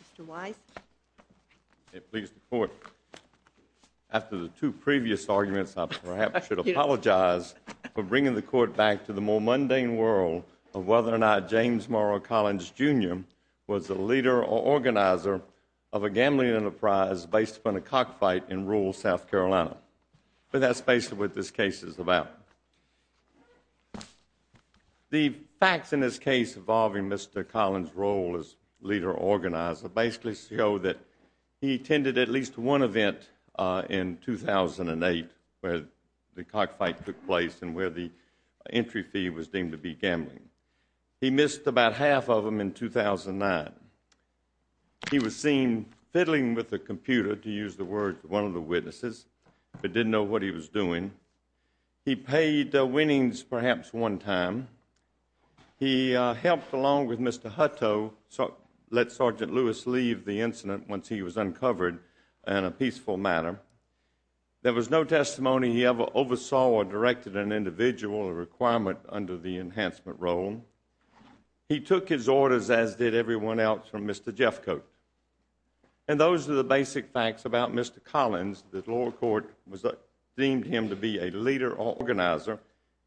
Mr. Weiss. Please report. After the two previous arguments, I perhaps should apologize for bringing the Court back to the more mundane world of whether or not James Morrow Collins, Jr. was a leader or organizer of a gambling enterprise based upon a cockfight in rural South Carolina. But that's basically what this case is about. The facts in this case involving Mr. Collins' role as leader or organizer basically show that he attended at least one event in 2008 where the cockfight took place and where the entry fee was deemed to be gambling. He missed about half of them in 2009. He was seen fiddling with a computer, to use the word, one of the witnesses, but didn't know what he was doing. He paid winnings perhaps one time. He helped along with Mr. Hutto, let Sergeant Lewis leave the incident once he was uncovered in a peaceful manner. There was no testimony he ever oversaw or directed an individual or requirement under the enhancement role. He took his orders as did everyone else from Mr. Jeffcoat. And those are the basic facts about Mr. Collins that the lower court deemed him to be a leader or organizer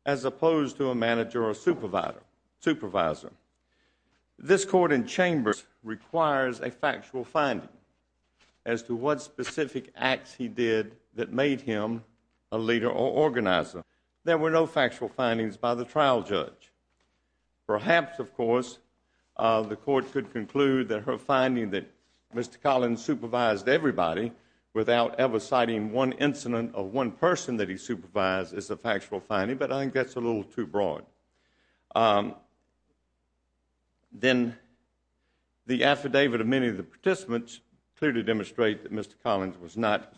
as opposed to a manager or supervisor. This court in Chambers requires a factual finding as to what specific acts he did that made him a leader or organizer. There were no factual findings by the trial judge. Perhaps, of course, the court could conclude that her finding that Mr. Collins supervised everybody without ever citing one incident of one person that he supervised is a factual finding, but I think that's a little too broad. Then the affidavit of many of the participants clearly demonstrate that Mr. Collins was not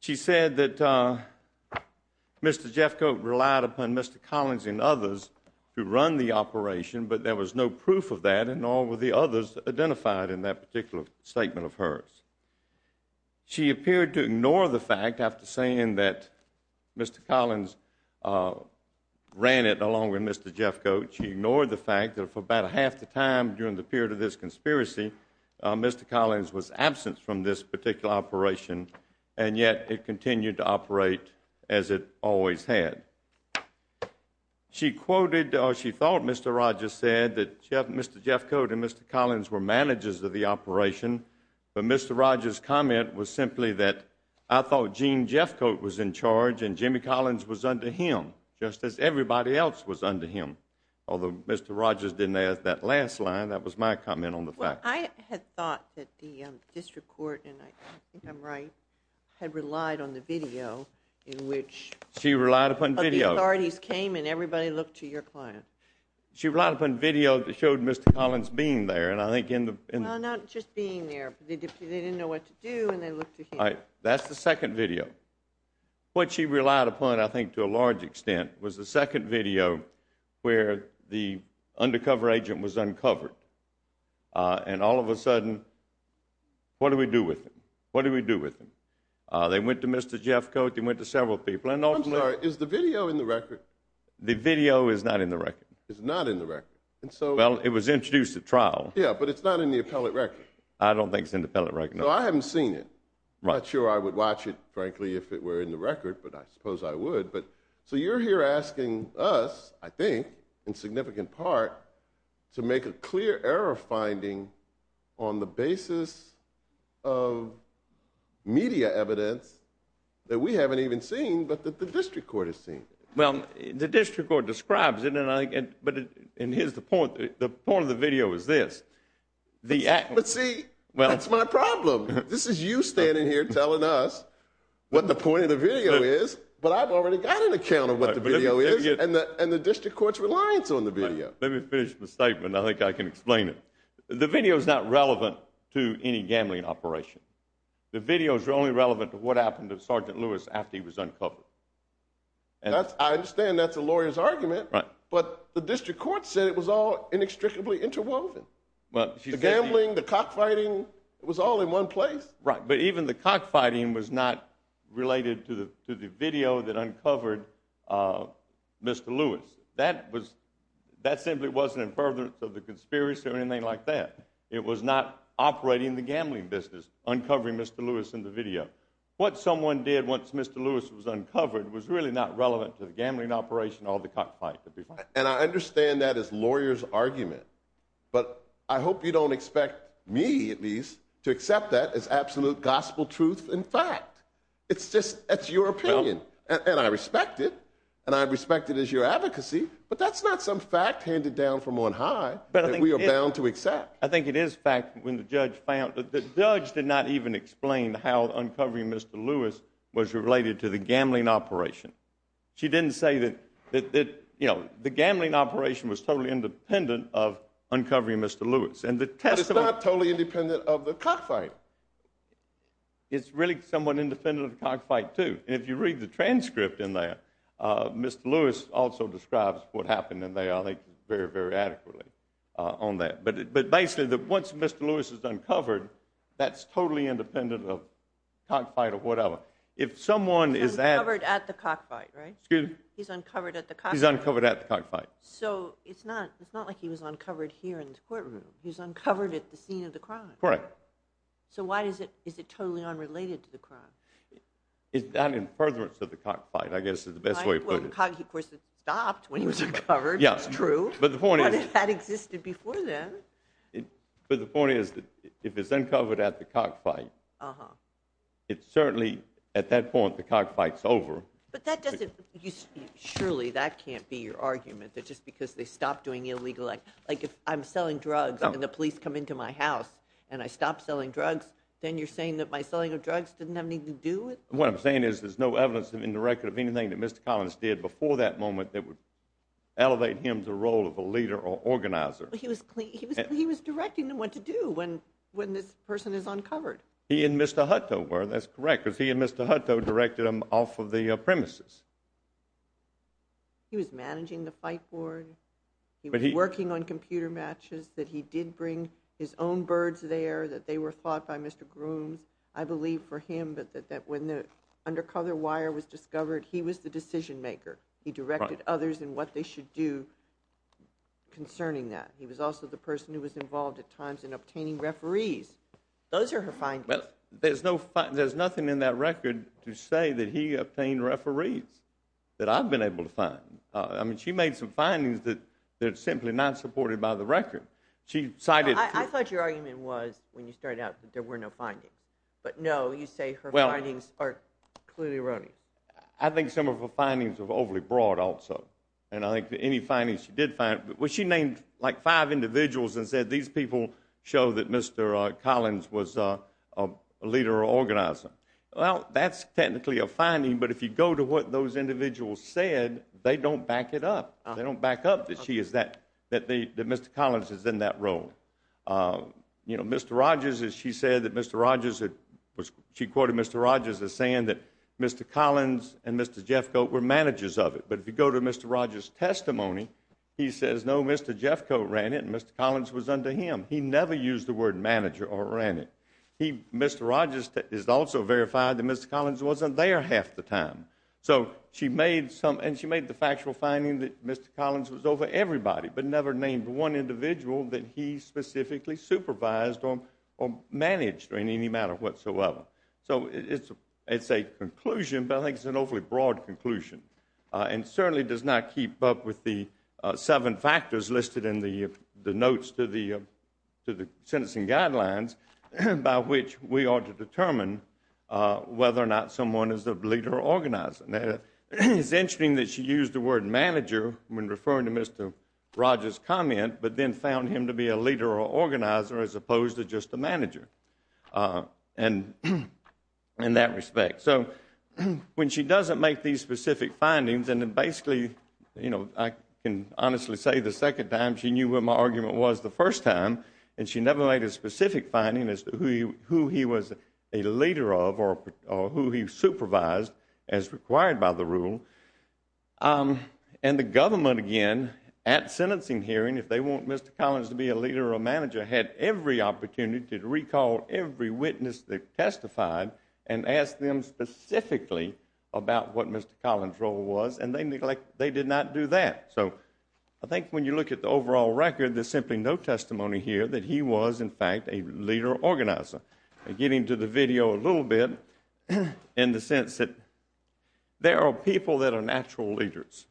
She said that Mr. Jeffcoat relied upon Mr. Collins and others who run the operation, but there was no proof of that and nor were the others identified in that particular statement of hers. She appeared to ignore the fact after saying that Mr. Collins ran it along with Mr. Jeffcoat. She ignored the fact that for about half the time during the period of this conspiracy, Mr. Collins was absent from this particular operation, and yet it continued to operate as it always had. She quoted or she thought Mr. Rogers said that Mr. Jeffcoat and Mr. Collins were managers of the operation, but Mr. Rogers' comment was simply that I thought Gene Jeffcoat was in charge and Jimmy Collins was under him, just as everybody else was under him, although Mr. Rogers didn't add that last line. That was my comment on the fact. I had thought that the district court, and I think I'm right, had relied on the video in which the authorities came and everybody looked to your client. She relied upon video that showed Mr. Collins being there. Not just being there, but they didn't know what to do and they looked to him. That's the second video. What she relied upon, I think to a large extent, was the second video where the undercover agent was uncovered, and all of a sudden, what do we do with him? What do we do with him? They went to Mr. Jeffcoat. They went to several people. I'm sorry. Is the video in the record? The video is not in the record. It's not in the record. Well, it was introduced at trial. Yeah, but it's not in the appellate record. I don't think it's in the appellate record, no. I haven't seen it. I'm not sure I would watch it, frankly, if it were in the record, but I suppose I would. You're here asking us, I think, in significant part, to make a clear error finding on the basis of media evidence that we haven't even seen, but that the district court has seen. The district court describes it, but here's the point. The point of the video is this. But see, that's my problem. This is you standing here telling us what the point of the video is, but I've already got an account of what the video is, and the district court's reliance on the video. Let me finish the statement. I think I can explain it. The video is not relevant to any gambling operation. The videos are only relevant to what happened to Sergeant Lewis after he was uncovered. I understand that's a lawyer's argument, but the district court said it was all inextricably interwoven. The gambling, the cockfighting, it was all in one place. Right, but even the cockfighting was not related to the video that uncovered Mr. Lewis. That simply wasn't in furtherance of the conspiracy or anything like that. It was not operating the gambling business, uncovering Mr. Lewis in the video. What someone did once Mr. Lewis was uncovered was really not relevant to the gambling operation or the cockfight. And I understand that is lawyer's argument, but I hope you don't expect me, at least, to accept that as absolute gospel truth and fact. It's just, that's your opinion, and I respect it, and I respect it as your advocacy, but that's not some fact handed down from on high that we are bound to accept. I think it is fact when the judge found, the judge did not even explain how uncovering Mr. Lewis was related to the gambling operation. She didn't say that, you know, the gambling operation was totally independent of uncovering Mr. Lewis. But it's not totally independent of the cockfight. It's really somewhat independent of the cockfight, too, and if you read the transcript in there, Mr. Lewis also describes what happened in there, I think, very, very adequately on that. But basically, once Mr. Lewis is uncovered, that's totally independent of cockfight or whatever. He's uncovered at the cockfight, right? Excuse me? He's uncovered at the cockfight. He's uncovered at the cockfight. So, it's not like he was uncovered here in the courtroom, he was uncovered at the scene of the crime. Correct. So why is it totally unrelated to the crime? It's not in furtherance of the cockfight, I guess is the best way to put it. Well, of course, it stopped when he was uncovered, it's true, but it had existed before then. But the point is, if it's uncovered at the cockfight, it's certainly, at that point, the cockfight's over. But that doesn't, surely that can't be your argument, that just because they stopped doing illegal, like if I'm selling drugs and the police come into my house and I stop selling drugs, then you're saying that my selling of drugs didn't have anything to do with it? What I'm saying is there's no evidence in the record of anything that Mr. Collins did before that moment that would elevate him to the role of a leader or organizer. But he was directing them what to do when this person is uncovered. He and Mr. Hutto were, that's correct, because he and Mr. Hutto directed them off of the premises. He was managing the fight board, he was working on computer matches, that he did bring his own birds there, that they were fought by Mr. Grooms. I believe for him that when the undercover wire was discovered, he was the decision maker. He directed others in what they should do concerning that. He was also the person who was involved at times in obtaining referees. Those are her findings. Well, there's nothing in that record to say that he obtained referees that I've been able to find. I mean, she made some findings that are simply not supported by the record. She cited... I thought your argument was, when you started out, that there were no findings. But no, you say her findings are clearly erroneous. I think some of her findings are overly broad also. And I think any findings she did find... She named like five individuals and said, these people show that Mr. Collins was a leader or organizer. Well, that's technically a finding, but if you go to what those individuals said, they don't back it up. They don't back up that she is that, that Mr. Collins is in that role. You know, Mr. Rogers, as she said, that Mr. Rogers had... Mr. Collins and Mr. Jeffcoat were managers of it. But if you go to Mr. Rogers' testimony, he says, no, Mr. Jeffcoat ran it and Mr. Collins was under him. He never used the word manager or ran it. Mr. Rogers is also verified that Mr. Collins wasn't there half the time. So she made some... And she made the factual finding that Mr. Collins was over everybody, but never named one individual that he specifically supervised or managed in any matter whatsoever. So it's a conclusion, but I think it's an awfully broad conclusion and certainly does not keep up with the seven factors listed in the notes to the sentencing guidelines by which we ought to determine whether or not someone is a leader or organizer. It's interesting that she used the word manager when referring to Mr. Rogers' comment, but then found him to be a leader or organizer as opposed to just a manager. And in that respect. So when she doesn't make these specific findings and then basically, you know, I can honestly say the second time she knew what my argument was the first time and she never made a specific finding as to who he was a leader of or who he supervised as required by the rule. And the government, again, at sentencing hearing, if they want Mr. Collins to be a leader or organizer, they called every witness that testified and asked them specifically about what Mr. Collins' role was and they neglected, they did not do that. So I think when you look at the overall record, there's simply no testimony here that he was in fact a leader or organizer. I'll get into the video a little bit in the sense that there are people that are natural leaders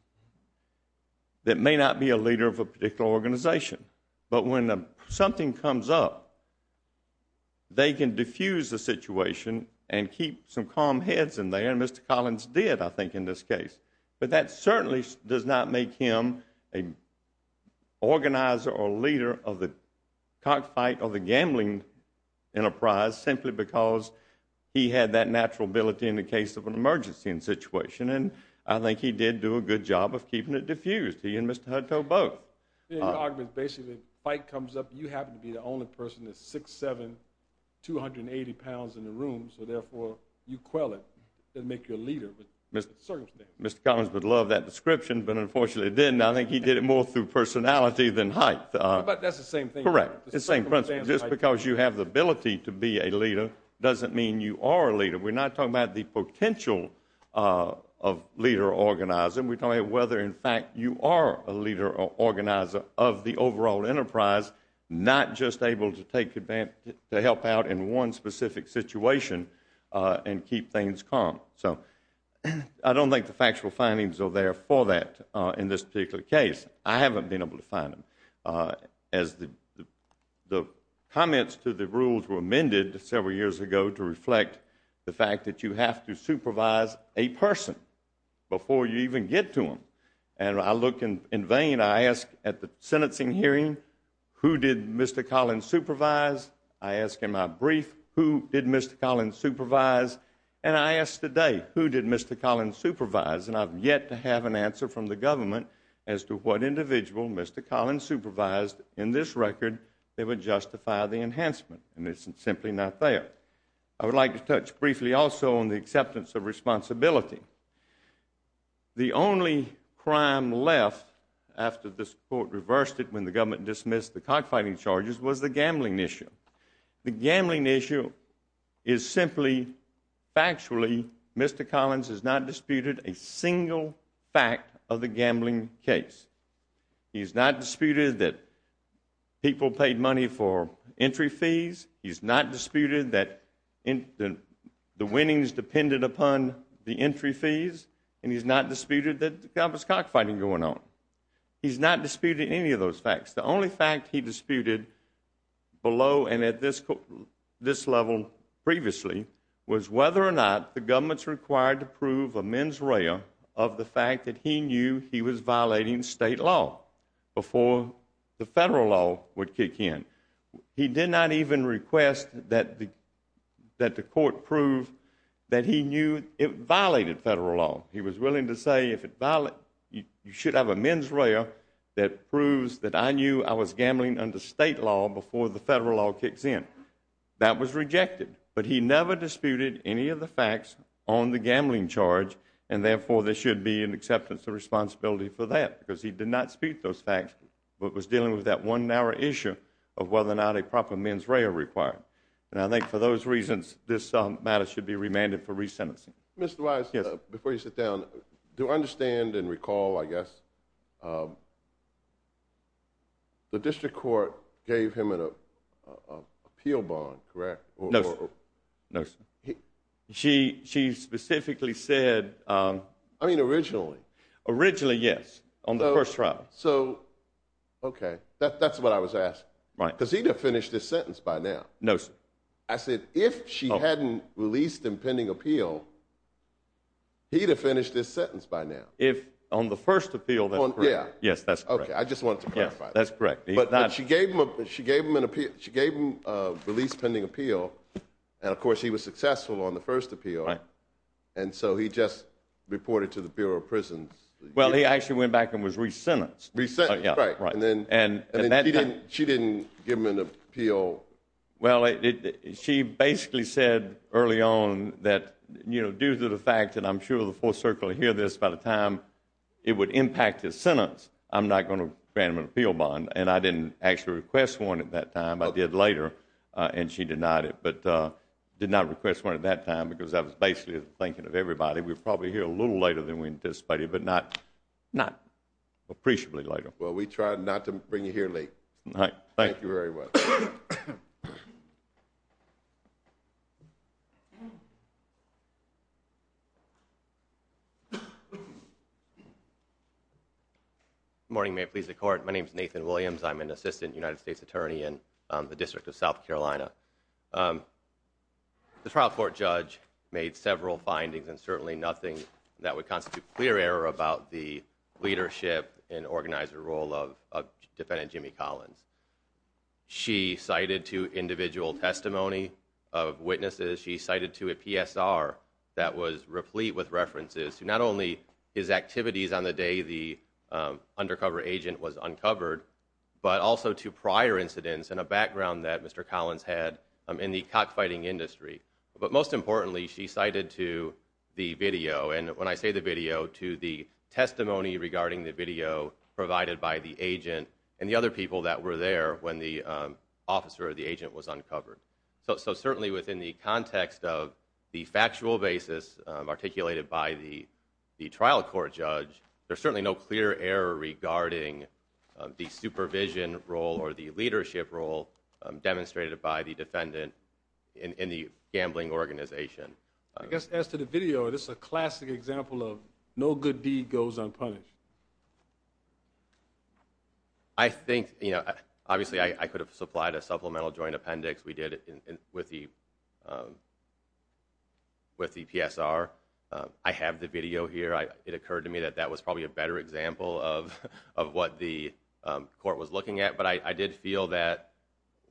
that may not be a leader of a particular organization. But when something comes up, they can diffuse the situation and keep some calm heads in there and Mr. Collins did, I think, in this case. But that certainly does not make him an organizer or leader of the cockfight or the gambling enterprise simply because he had that natural ability in the case of an emergency situation and I think he did do a good job of keeping it diffused, he and Mr. Hutto both. Your argument is basically if a fight comes up, you happen to be the only person that's 6'7", 280 pounds in the room, so therefore, you quell it and make your leader with the circumstances. Mr. Collins would love that description but unfortunately didn't. I think he did it more through personality than height. But that's the same thing. Correct. The same principle. Just because you have the ability to be a leader doesn't mean you are a leader. We're not talking about the potential of leader or organizer, we're talking about whether in fact you are a leader or organizer of the overall enterprise, not just able to take advantage, to help out in one specific situation and keep things calm. So I don't think the factual findings are there for that in this particular case. I haven't been able to find them as the comments to the rules were amended several years ago to reflect the fact that you have to supervise a person before you even get to them. And I look in vain, I ask at the sentencing hearing, who did Mr. Collins supervise? I ask in my brief, who did Mr. Collins supervise? And I ask today, who did Mr. Collins supervise? And I've yet to have an answer from the government as to what individual Mr. Collins supervised in this record that would justify the enhancement. And it's simply not there. I would like to touch briefly also on the acceptance of responsibility. The only crime left after this court reversed it when the government dismissed the cockfighting charges was the gambling issue. The gambling issue is simply, factually, Mr. Collins has not disputed a single fact of the gambling case. He's not disputed that people paid money for entry fees. He's not disputed that the winnings depended upon the entry fees. And he's not disputed that there was cockfighting going on. He's not disputed any of those facts. The only fact he disputed below and at this level previously was whether or not the government was required to prove a mens rea of the fact that he knew he was violating state law before the federal law would kick in. He did not even request that the court prove that he knew it violated federal law. He was willing to say if it violated, you should have a mens rea that proves that I knew I was gambling under state law before the federal law kicks in. That was rejected. But he never disputed any of the facts on the gambling charge and therefore there should be an acceptance of responsibility for that because he did not dispute those facts but was dealing with that one narrow issue of whether or not a proper mens rea required. And I think for those reasons, this matter should be remanded for resentencing. Mr. Wise, before you sit down, do I understand and recall, I guess, the district court gave him an appeal bond, correct? No, sir. No, sir. She specifically said... I mean, originally. Originally, yes. On the first trial. So, okay. That's what I was asking. Right. Because he'd have finished his sentence by now. No, sir. I said, if she hadn't released him pending appeal, he'd have finished his sentence by now. If on the first appeal, that's correct. Yeah. Yes, that's correct. Okay. I just wanted to clarify that. Yes, that's correct. But she gave him a release pending appeal, and of course, he was successful on the first appeal. Right. And so, he just reported to the Bureau of Prisons. Well, he actually went back and was resentenced. Resentenced. Right. And then she didn't give him an appeal. Well, she basically said early on that due to the fact that I'm sure the full circle hear this by the time it would impact his sentence, I'm not going to grant him an appeal bond. And I didn't actually request one at that time. I did later, and she denied it. But did not request one at that time because I was basically thinking of everybody. We were probably here a little later than we anticipated, but not appreciably later. Well, we tried not to bring you here late. Right. Thank you very much. Good morning. May it please the Court. My name is Nathan Brown. My name is Nathan Williams. I'm an Assistant United States Attorney in the District of South Carolina. The trial court judge made several findings and certainly nothing that would constitute clear error about the leadership and organizer role of Defendant Jimmy Collins. She cited two individual testimony of witnesses. She cited two PSR that was replete with references to not only his activities on the day the but also to prior incidents and a background that Mr. Collins had in the cockfighting industry. But most importantly, she cited to the video, and when I say the video, to the testimony regarding the video provided by the agent and the other people that were there when the officer or the agent was uncovered. So certainly within the context of the factual basis articulated by the trial court judge, there's certainly no clear error regarding the supervision role or the leadership role demonstrated by the defendant in the gambling organization. I guess as to the video, this is a classic example of no good deed goes unpunished. I think, you know, obviously I could have supplied a supplemental joint appendix we did with the PSR. I have the video here. It occurred to me that that was probably a better example of what the court was looking at. But I did feel that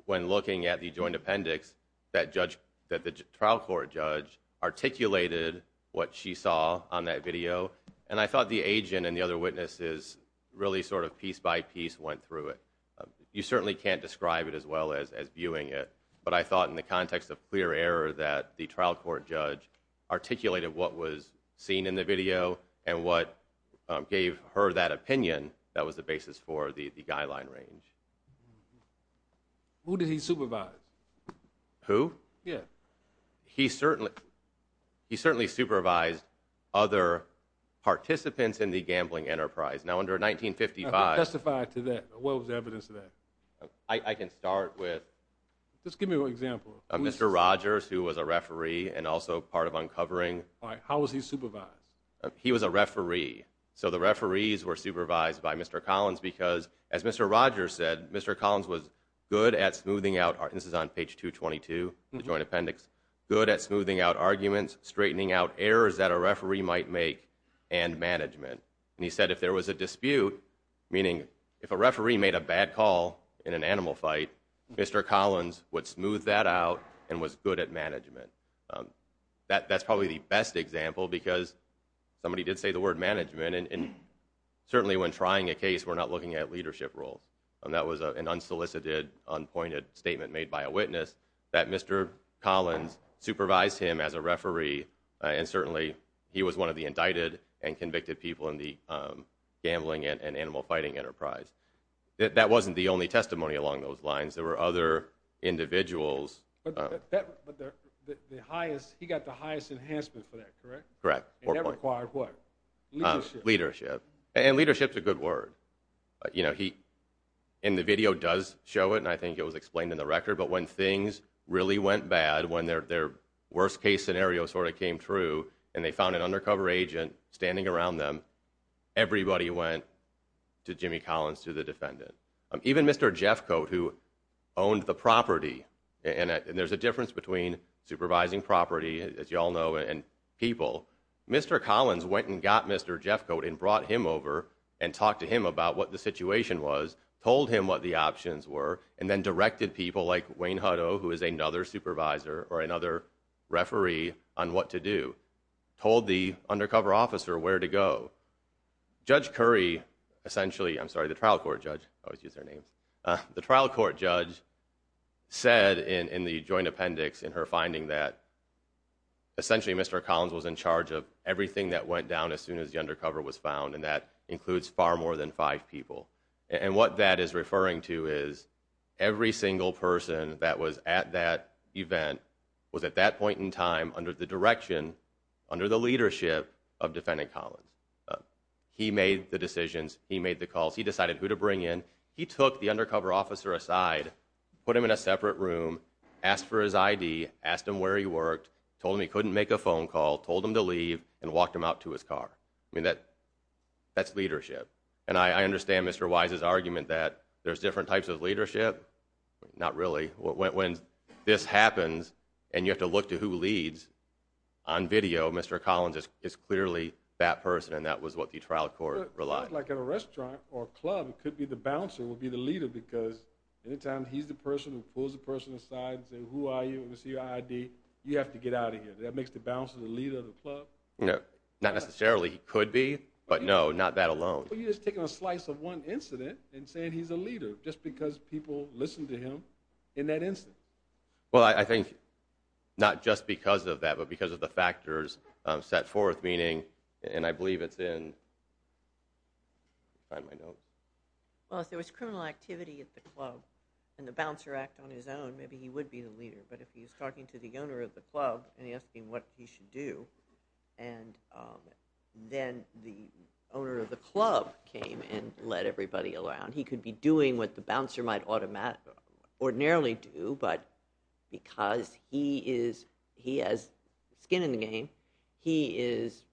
when looking at the joint appendix that the trial court judge articulated what she saw on that video. And I thought the agent and the other witnesses really sort of piece by piece went through it. You certainly can't describe it as well as viewing it. But I thought in the context of clear error that the trial court judge articulated what was seen in the video and what gave her that opinion, that was the basis for the guideline range. Who did he supervise? Who? Yeah. He certainly supervised other participants in the gambling enterprise. Now under 1955. Can you testify to that? What was the evidence of that? I can start with. Just give me an example. Mr. Rogers, who was a referee and also part of uncovering. How was he supervised? He was a referee. So the referees were supervised by Mr. Collins because as Mr. Rogers said, Mr. Collins was good at smoothing out, this is on page 222, the joint appendix, good at smoothing out arguments, straightening out errors that a referee might make, and management. And he said if there was a dispute, meaning if a referee made a bad call in an animal fight, Mr. Collins would smooth that out and was good at management. That's probably the best example because somebody did say the word management and certainly when trying a case, we're not looking at leadership roles. That was an unsolicited, unpointed statement made by a witness that Mr. Collins supervised him as a referee and certainly he was one of the indicted and convicted people in the gambling and animal fighting enterprise. That wasn't the only testimony along those lines. There were other individuals. But he got the highest enhancement for that, correct? Correct. And that required what? Leadership. Leadership. And leadership's a good word. In the video does show it and I think it was explained in the record, but when things really went bad, when their worst case scenario sort of came true and they found an undercover agent standing around them, everybody went to Jimmy Collins to the defendant. Even Mr. Jeffcoat who owned the property, and there's a difference between supervising property as you all know and people, Mr. Collins went and got Mr. Jeffcoat and brought him over and talked to him about what the situation was, told him what the options were, and then directed people like Wayne Huddo who is another supervisor or another referee on what to do. Told the undercover officer where to go. Judge Curry, essentially, I'm sorry, the trial court judge, I always use their names. The trial court judge said in the joint appendix in her finding that essentially Mr. Collins was in charge of everything that went down as soon as the undercover was found and that includes far more than five people. And what that is referring to is every single person that was at that event was at that point in time under the direction, under the leadership of Defendant Collins. He made the decisions, he made the calls, he decided who to bring in, he took the undercover officer aside, put him in a separate room, asked for his ID, asked him where he worked, told him he couldn't make a phone call, told him to leave, and walked him out to his car. I mean, that's leadership. And I understand Mr. Wise's argument that there's different types of leadership. Not really. When this happens and you have to look to who leads, on video, Mr. Collins is clearly that person and that was what the trial court relied on. Like at a restaurant or a club, it could be the bouncer would be the leader because any time he's the person who pulls the person aside and says, who are you, what's your ID, you have to get out of here. That makes the bouncer the leader of the club? Not necessarily. He could be. But no, not that alone. Well, you're just taking a slice of one incident and saying he's a leader just because people listen to him in that incident. Well, I think not just because of that, but because of the factors set forth, meaning, and I believe it's in, let me find my notes. Well, if there was criminal activity at the club and the bouncer acted on his own, maybe he would be the leader. But if he's talking to the owner of the club and asking what he should do, and then the club came and let everybody around, he could be doing what the bouncer might ordinarily do, but because he has skin in the game, he is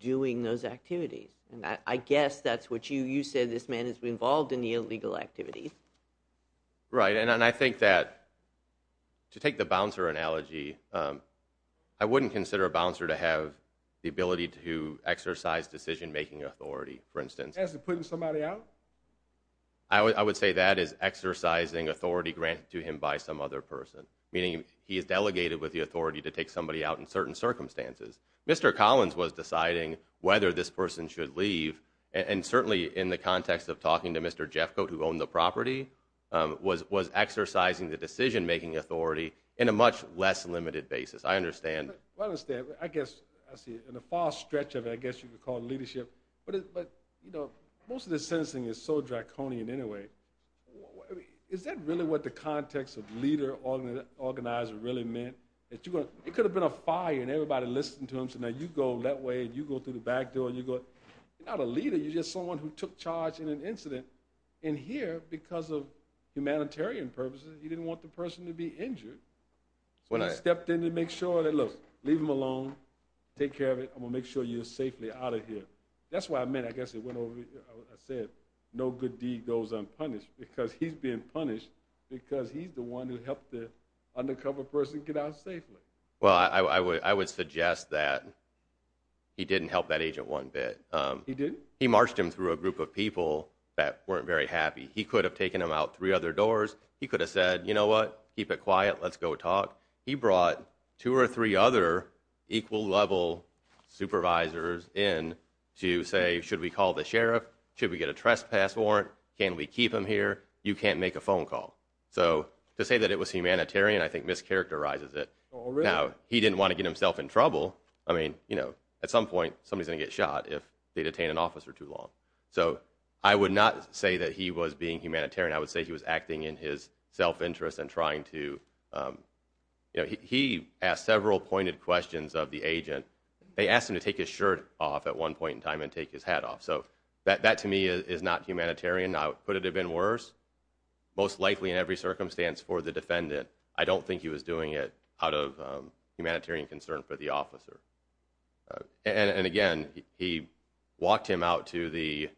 doing those activities. I guess that's what you said, this man is involved in the illegal activities. Right, and I think that to take the bouncer analogy, I wouldn't consider a bouncer to have the ability to exercise decision-making authority, for instance. As in putting somebody out? I would say that is exercising authority granted to him by some other person, meaning he is delegated with the authority to take somebody out in certain circumstances. Mr. Collins was deciding whether this person should leave, and certainly in the context of talking to Mr. Jeffcoat, who owned the property, was exercising the decision-making authority in a much less limited basis. I understand. I see. In the far stretch of it, I guess you could call it leadership, but most of this sentencing is so draconian anyway. Is that really what the context of leader, organizer really meant? It could have been a fire and everybody listening to him, so now you go that way and you go through the back door. You're not a leader, you're just someone who took charge in an incident, and here, because of humanitarian purposes, he didn't want the person to be injured, so he stepped in to make sure that, look, leave him alone, take care of it, I'm going to make sure you're safely out of here. That's what I meant, I guess it went over, I said, no good deed goes unpunished, because he's being punished because he's the one who helped the undercover person get out safely. Well, I would suggest that he didn't help that agent one bit. He didn't? He marched him through a group of people that weren't very happy. He could have taken him out three other doors. He could have said, you know what, keep it quiet, let's go talk. He brought two or three other equal level supervisors in to say, should we call the sheriff, should we get a trespass warrant, can we keep him here, you can't make a phone call. So, to say that it was humanitarian, I think mischaracterizes it. Now, he didn't want to get himself in trouble, I mean, you know, at some point, somebody's going to get shot if they detain an officer too long. So I would not say that he was being humanitarian, I would say he was acting in his self-interest and trying to, you know, he asked several pointed questions of the agent. They asked him to take his shirt off at one point in time and take his hat off. So, that to me is not humanitarian, I would put it a bit worse, most likely in every circumstance for the defendant, I don't think he was doing it out of humanitarian concern for the officer. And again, he walked him out to the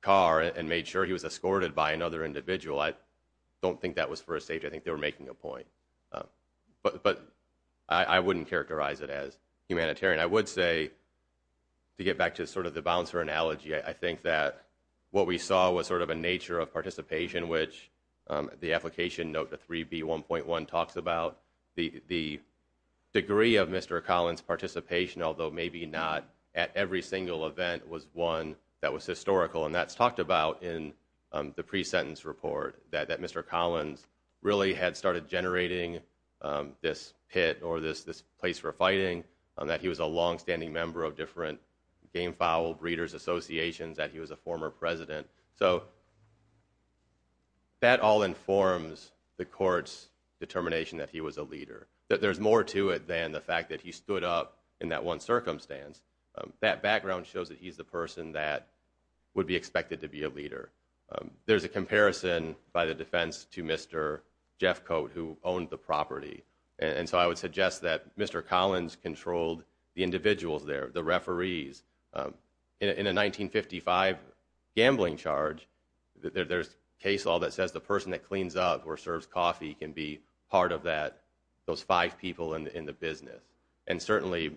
car and made sure he was escorted by another individual. I don't think that was for his safety. I think they were making a point. But I wouldn't characterize it as humanitarian. I would say, to get back to sort of the bouncer analogy, I think that what we saw was sort of a nature of participation, which the application note, the 3B1.1, talks about the degree of Mr. Collins' participation, although maybe not at every single event, was one that was had started generating this pit or this place for fighting, that he was a longstanding member of different gamefowl breeders' associations, that he was a former president. So that all informs the court's determination that he was a leader, that there's more to it than the fact that he stood up in that one circumstance. That background shows that he's the person that would be expected to be a leader. There's a comparison by the defense to Mr. Jeffcoat, who owned the property. And so I would suggest that Mr. Collins controlled the individuals there, the referees. In a 1955 gambling charge, there's case law that says the person that cleans up or serves coffee can be part of that, those five people in the business. And certainly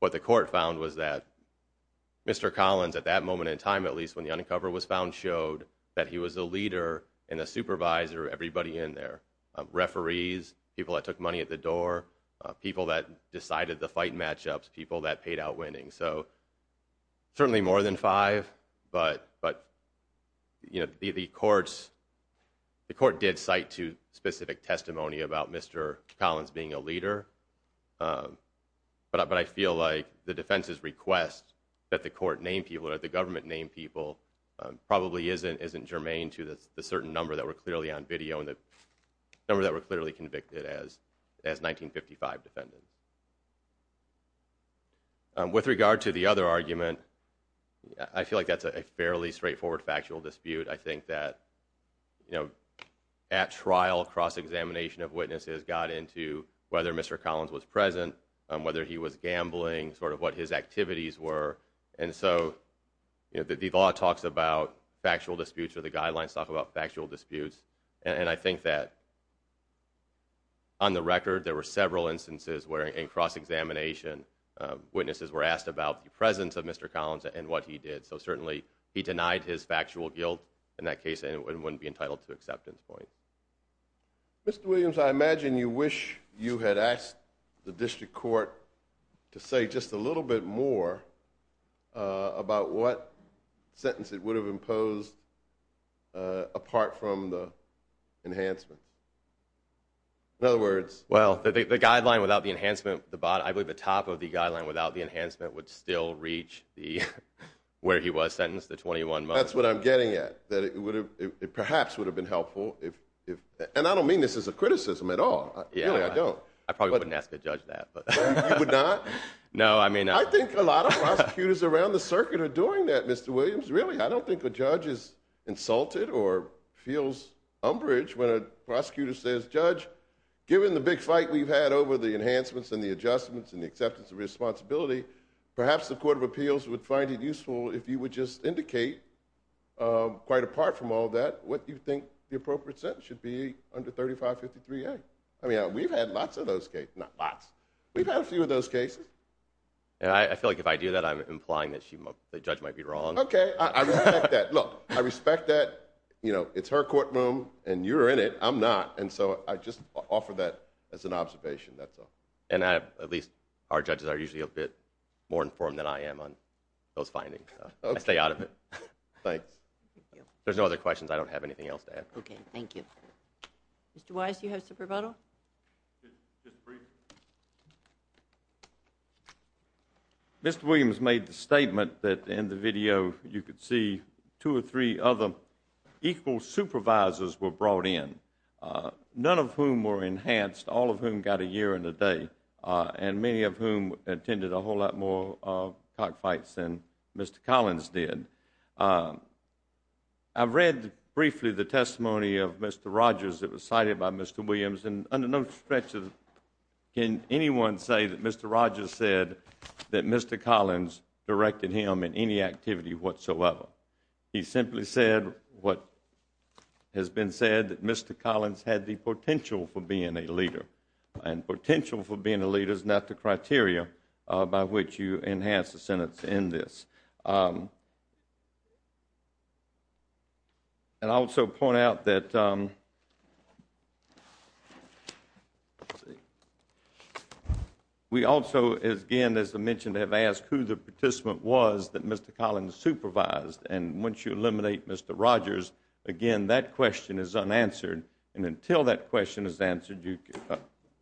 what the court found was that Mr. Collins, at that moment in time at least when the uncover was found, showed that he was a leader and a supervisor of everybody in there, referees, people that took money at the door, people that decided the fight matchups, people that paid out winning. So certainly more than five, but the court did cite specific testimony about Mr. Collins being a leader, but I feel like the defense's request that the court name people or that people probably isn't germane to the certain number that were clearly on video and the number that were clearly convicted as 1955 defendants. With regard to the other argument, I feel like that's a fairly straightforward factual dispute. I think that at trial, cross-examination of witnesses got into whether Mr. Collins was present, whether he was gambling, sort of what his activities were. And so the law talks about factual disputes or the guidelines talk about factual disputes. And I think that on the record there were several instances where in cross-examination witnesses were asked about the presence of Mr. Collins and what he did. So certainly he denied his factual guilt in that case and wouldn't be entitled to acceptance point. Mr. Williams, I imagine you wish you had asked the district court to say just a little bit more about what sentence it would have imposed apart from the enhancements. In other words... Well, the guideline without the enhancement, I believe the top of the guideline without the enhancement would still reach where he was sentenced, the 21 months. That's what I'm getting at, that it perhaps would have been helpful if... And I don't mean this as a criticism at all, really, I don't. I probably wouldn't ask a judge that. You would not? No, I may not. I think a lot of prosecutors around the circuit are doing that, Mr. Williams, really. I don't think a judge is insulted or feels umbrage when a prosecutor says, Judge, given the big fight we've had over the enhancements and the adjustments and the acceptance of responsibility, perhaps the Court of Appeals would find it useful if you would just indicate quite apart from all that, what you think the appropriate sentence should be under 3553A. I mean, we've had lots of those cases, not lots, we've had a few of those cases. And I feel like if I do that, I'm implying that the judge might be wrong. Okay. I respect that. Look, I respect that. You know, it's her courtroom and you're in it, I'm not. And so, I just offer that as an observation, that's all. And at least our judges are usually a bit more informed than I am on those findings. I stay out of it. Thanks. There's no other questions. I don't have anything else to add. Okay. Thank you. Mr. Wise, do you have a supervoto? Ms. Breeden. Mr. Williams made the statement that in the video you could see two or three other equal supervisors were brought in, none of whom were enhanced, all of whom got a year and a day, and many of whom attended a whole lot more cockfights than Mr. Collins did. I've read briefly the testimony of Mr. Rogers that was cited by Mr. Williams, and under no stretches can anyone say that Mr. Rogers said that Mr. Collins directed him in any activity whatsoever. He simply said what has been said, that Mr. Collins had the potential for being a leader. And potential for being a leader is not the criteria by which you enhance the sentence in this. I would also point out that we also, again, as I mentioned, have asked who the participant was that Mr. Collins supervised, and once you eliminate Mr. Rogers, again, that question is unanswered. And until that question is answered,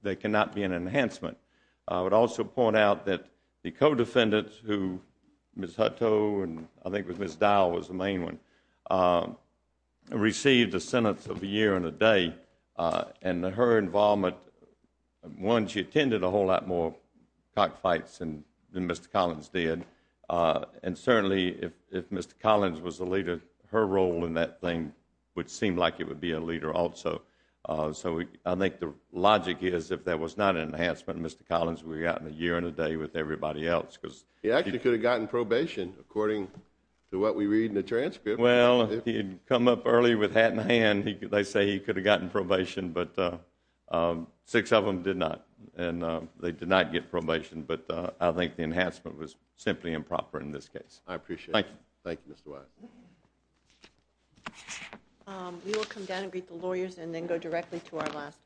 there cannot be an enhancement. I would also point out that the co-defendant, who Ms. Hutto and I think it was Ms. Dowell was the main one, received a sentence of a year and a day, and her involvement, one, she attended a whole lot more cockfights than Mr. Collins did, and certainly if Mr. Collins was the leader, her role in that thing would seem like it would be a leader also. So I think the logic is if there was not an enhancement in Mr. Collins, we would have gotten a year and a day with everybody else. He actually could have gotten probation according to what we read in the transcript. Well, he had come up early with hat in hand. They say he could have gotten probation, but six of them did not, and they did not get probation. But I think the enhancement was simply improper in this case. I appreciate it. Thank you. Thank you, Mr. Wise. We will come down and greet the lawyers and then go directly to our last case.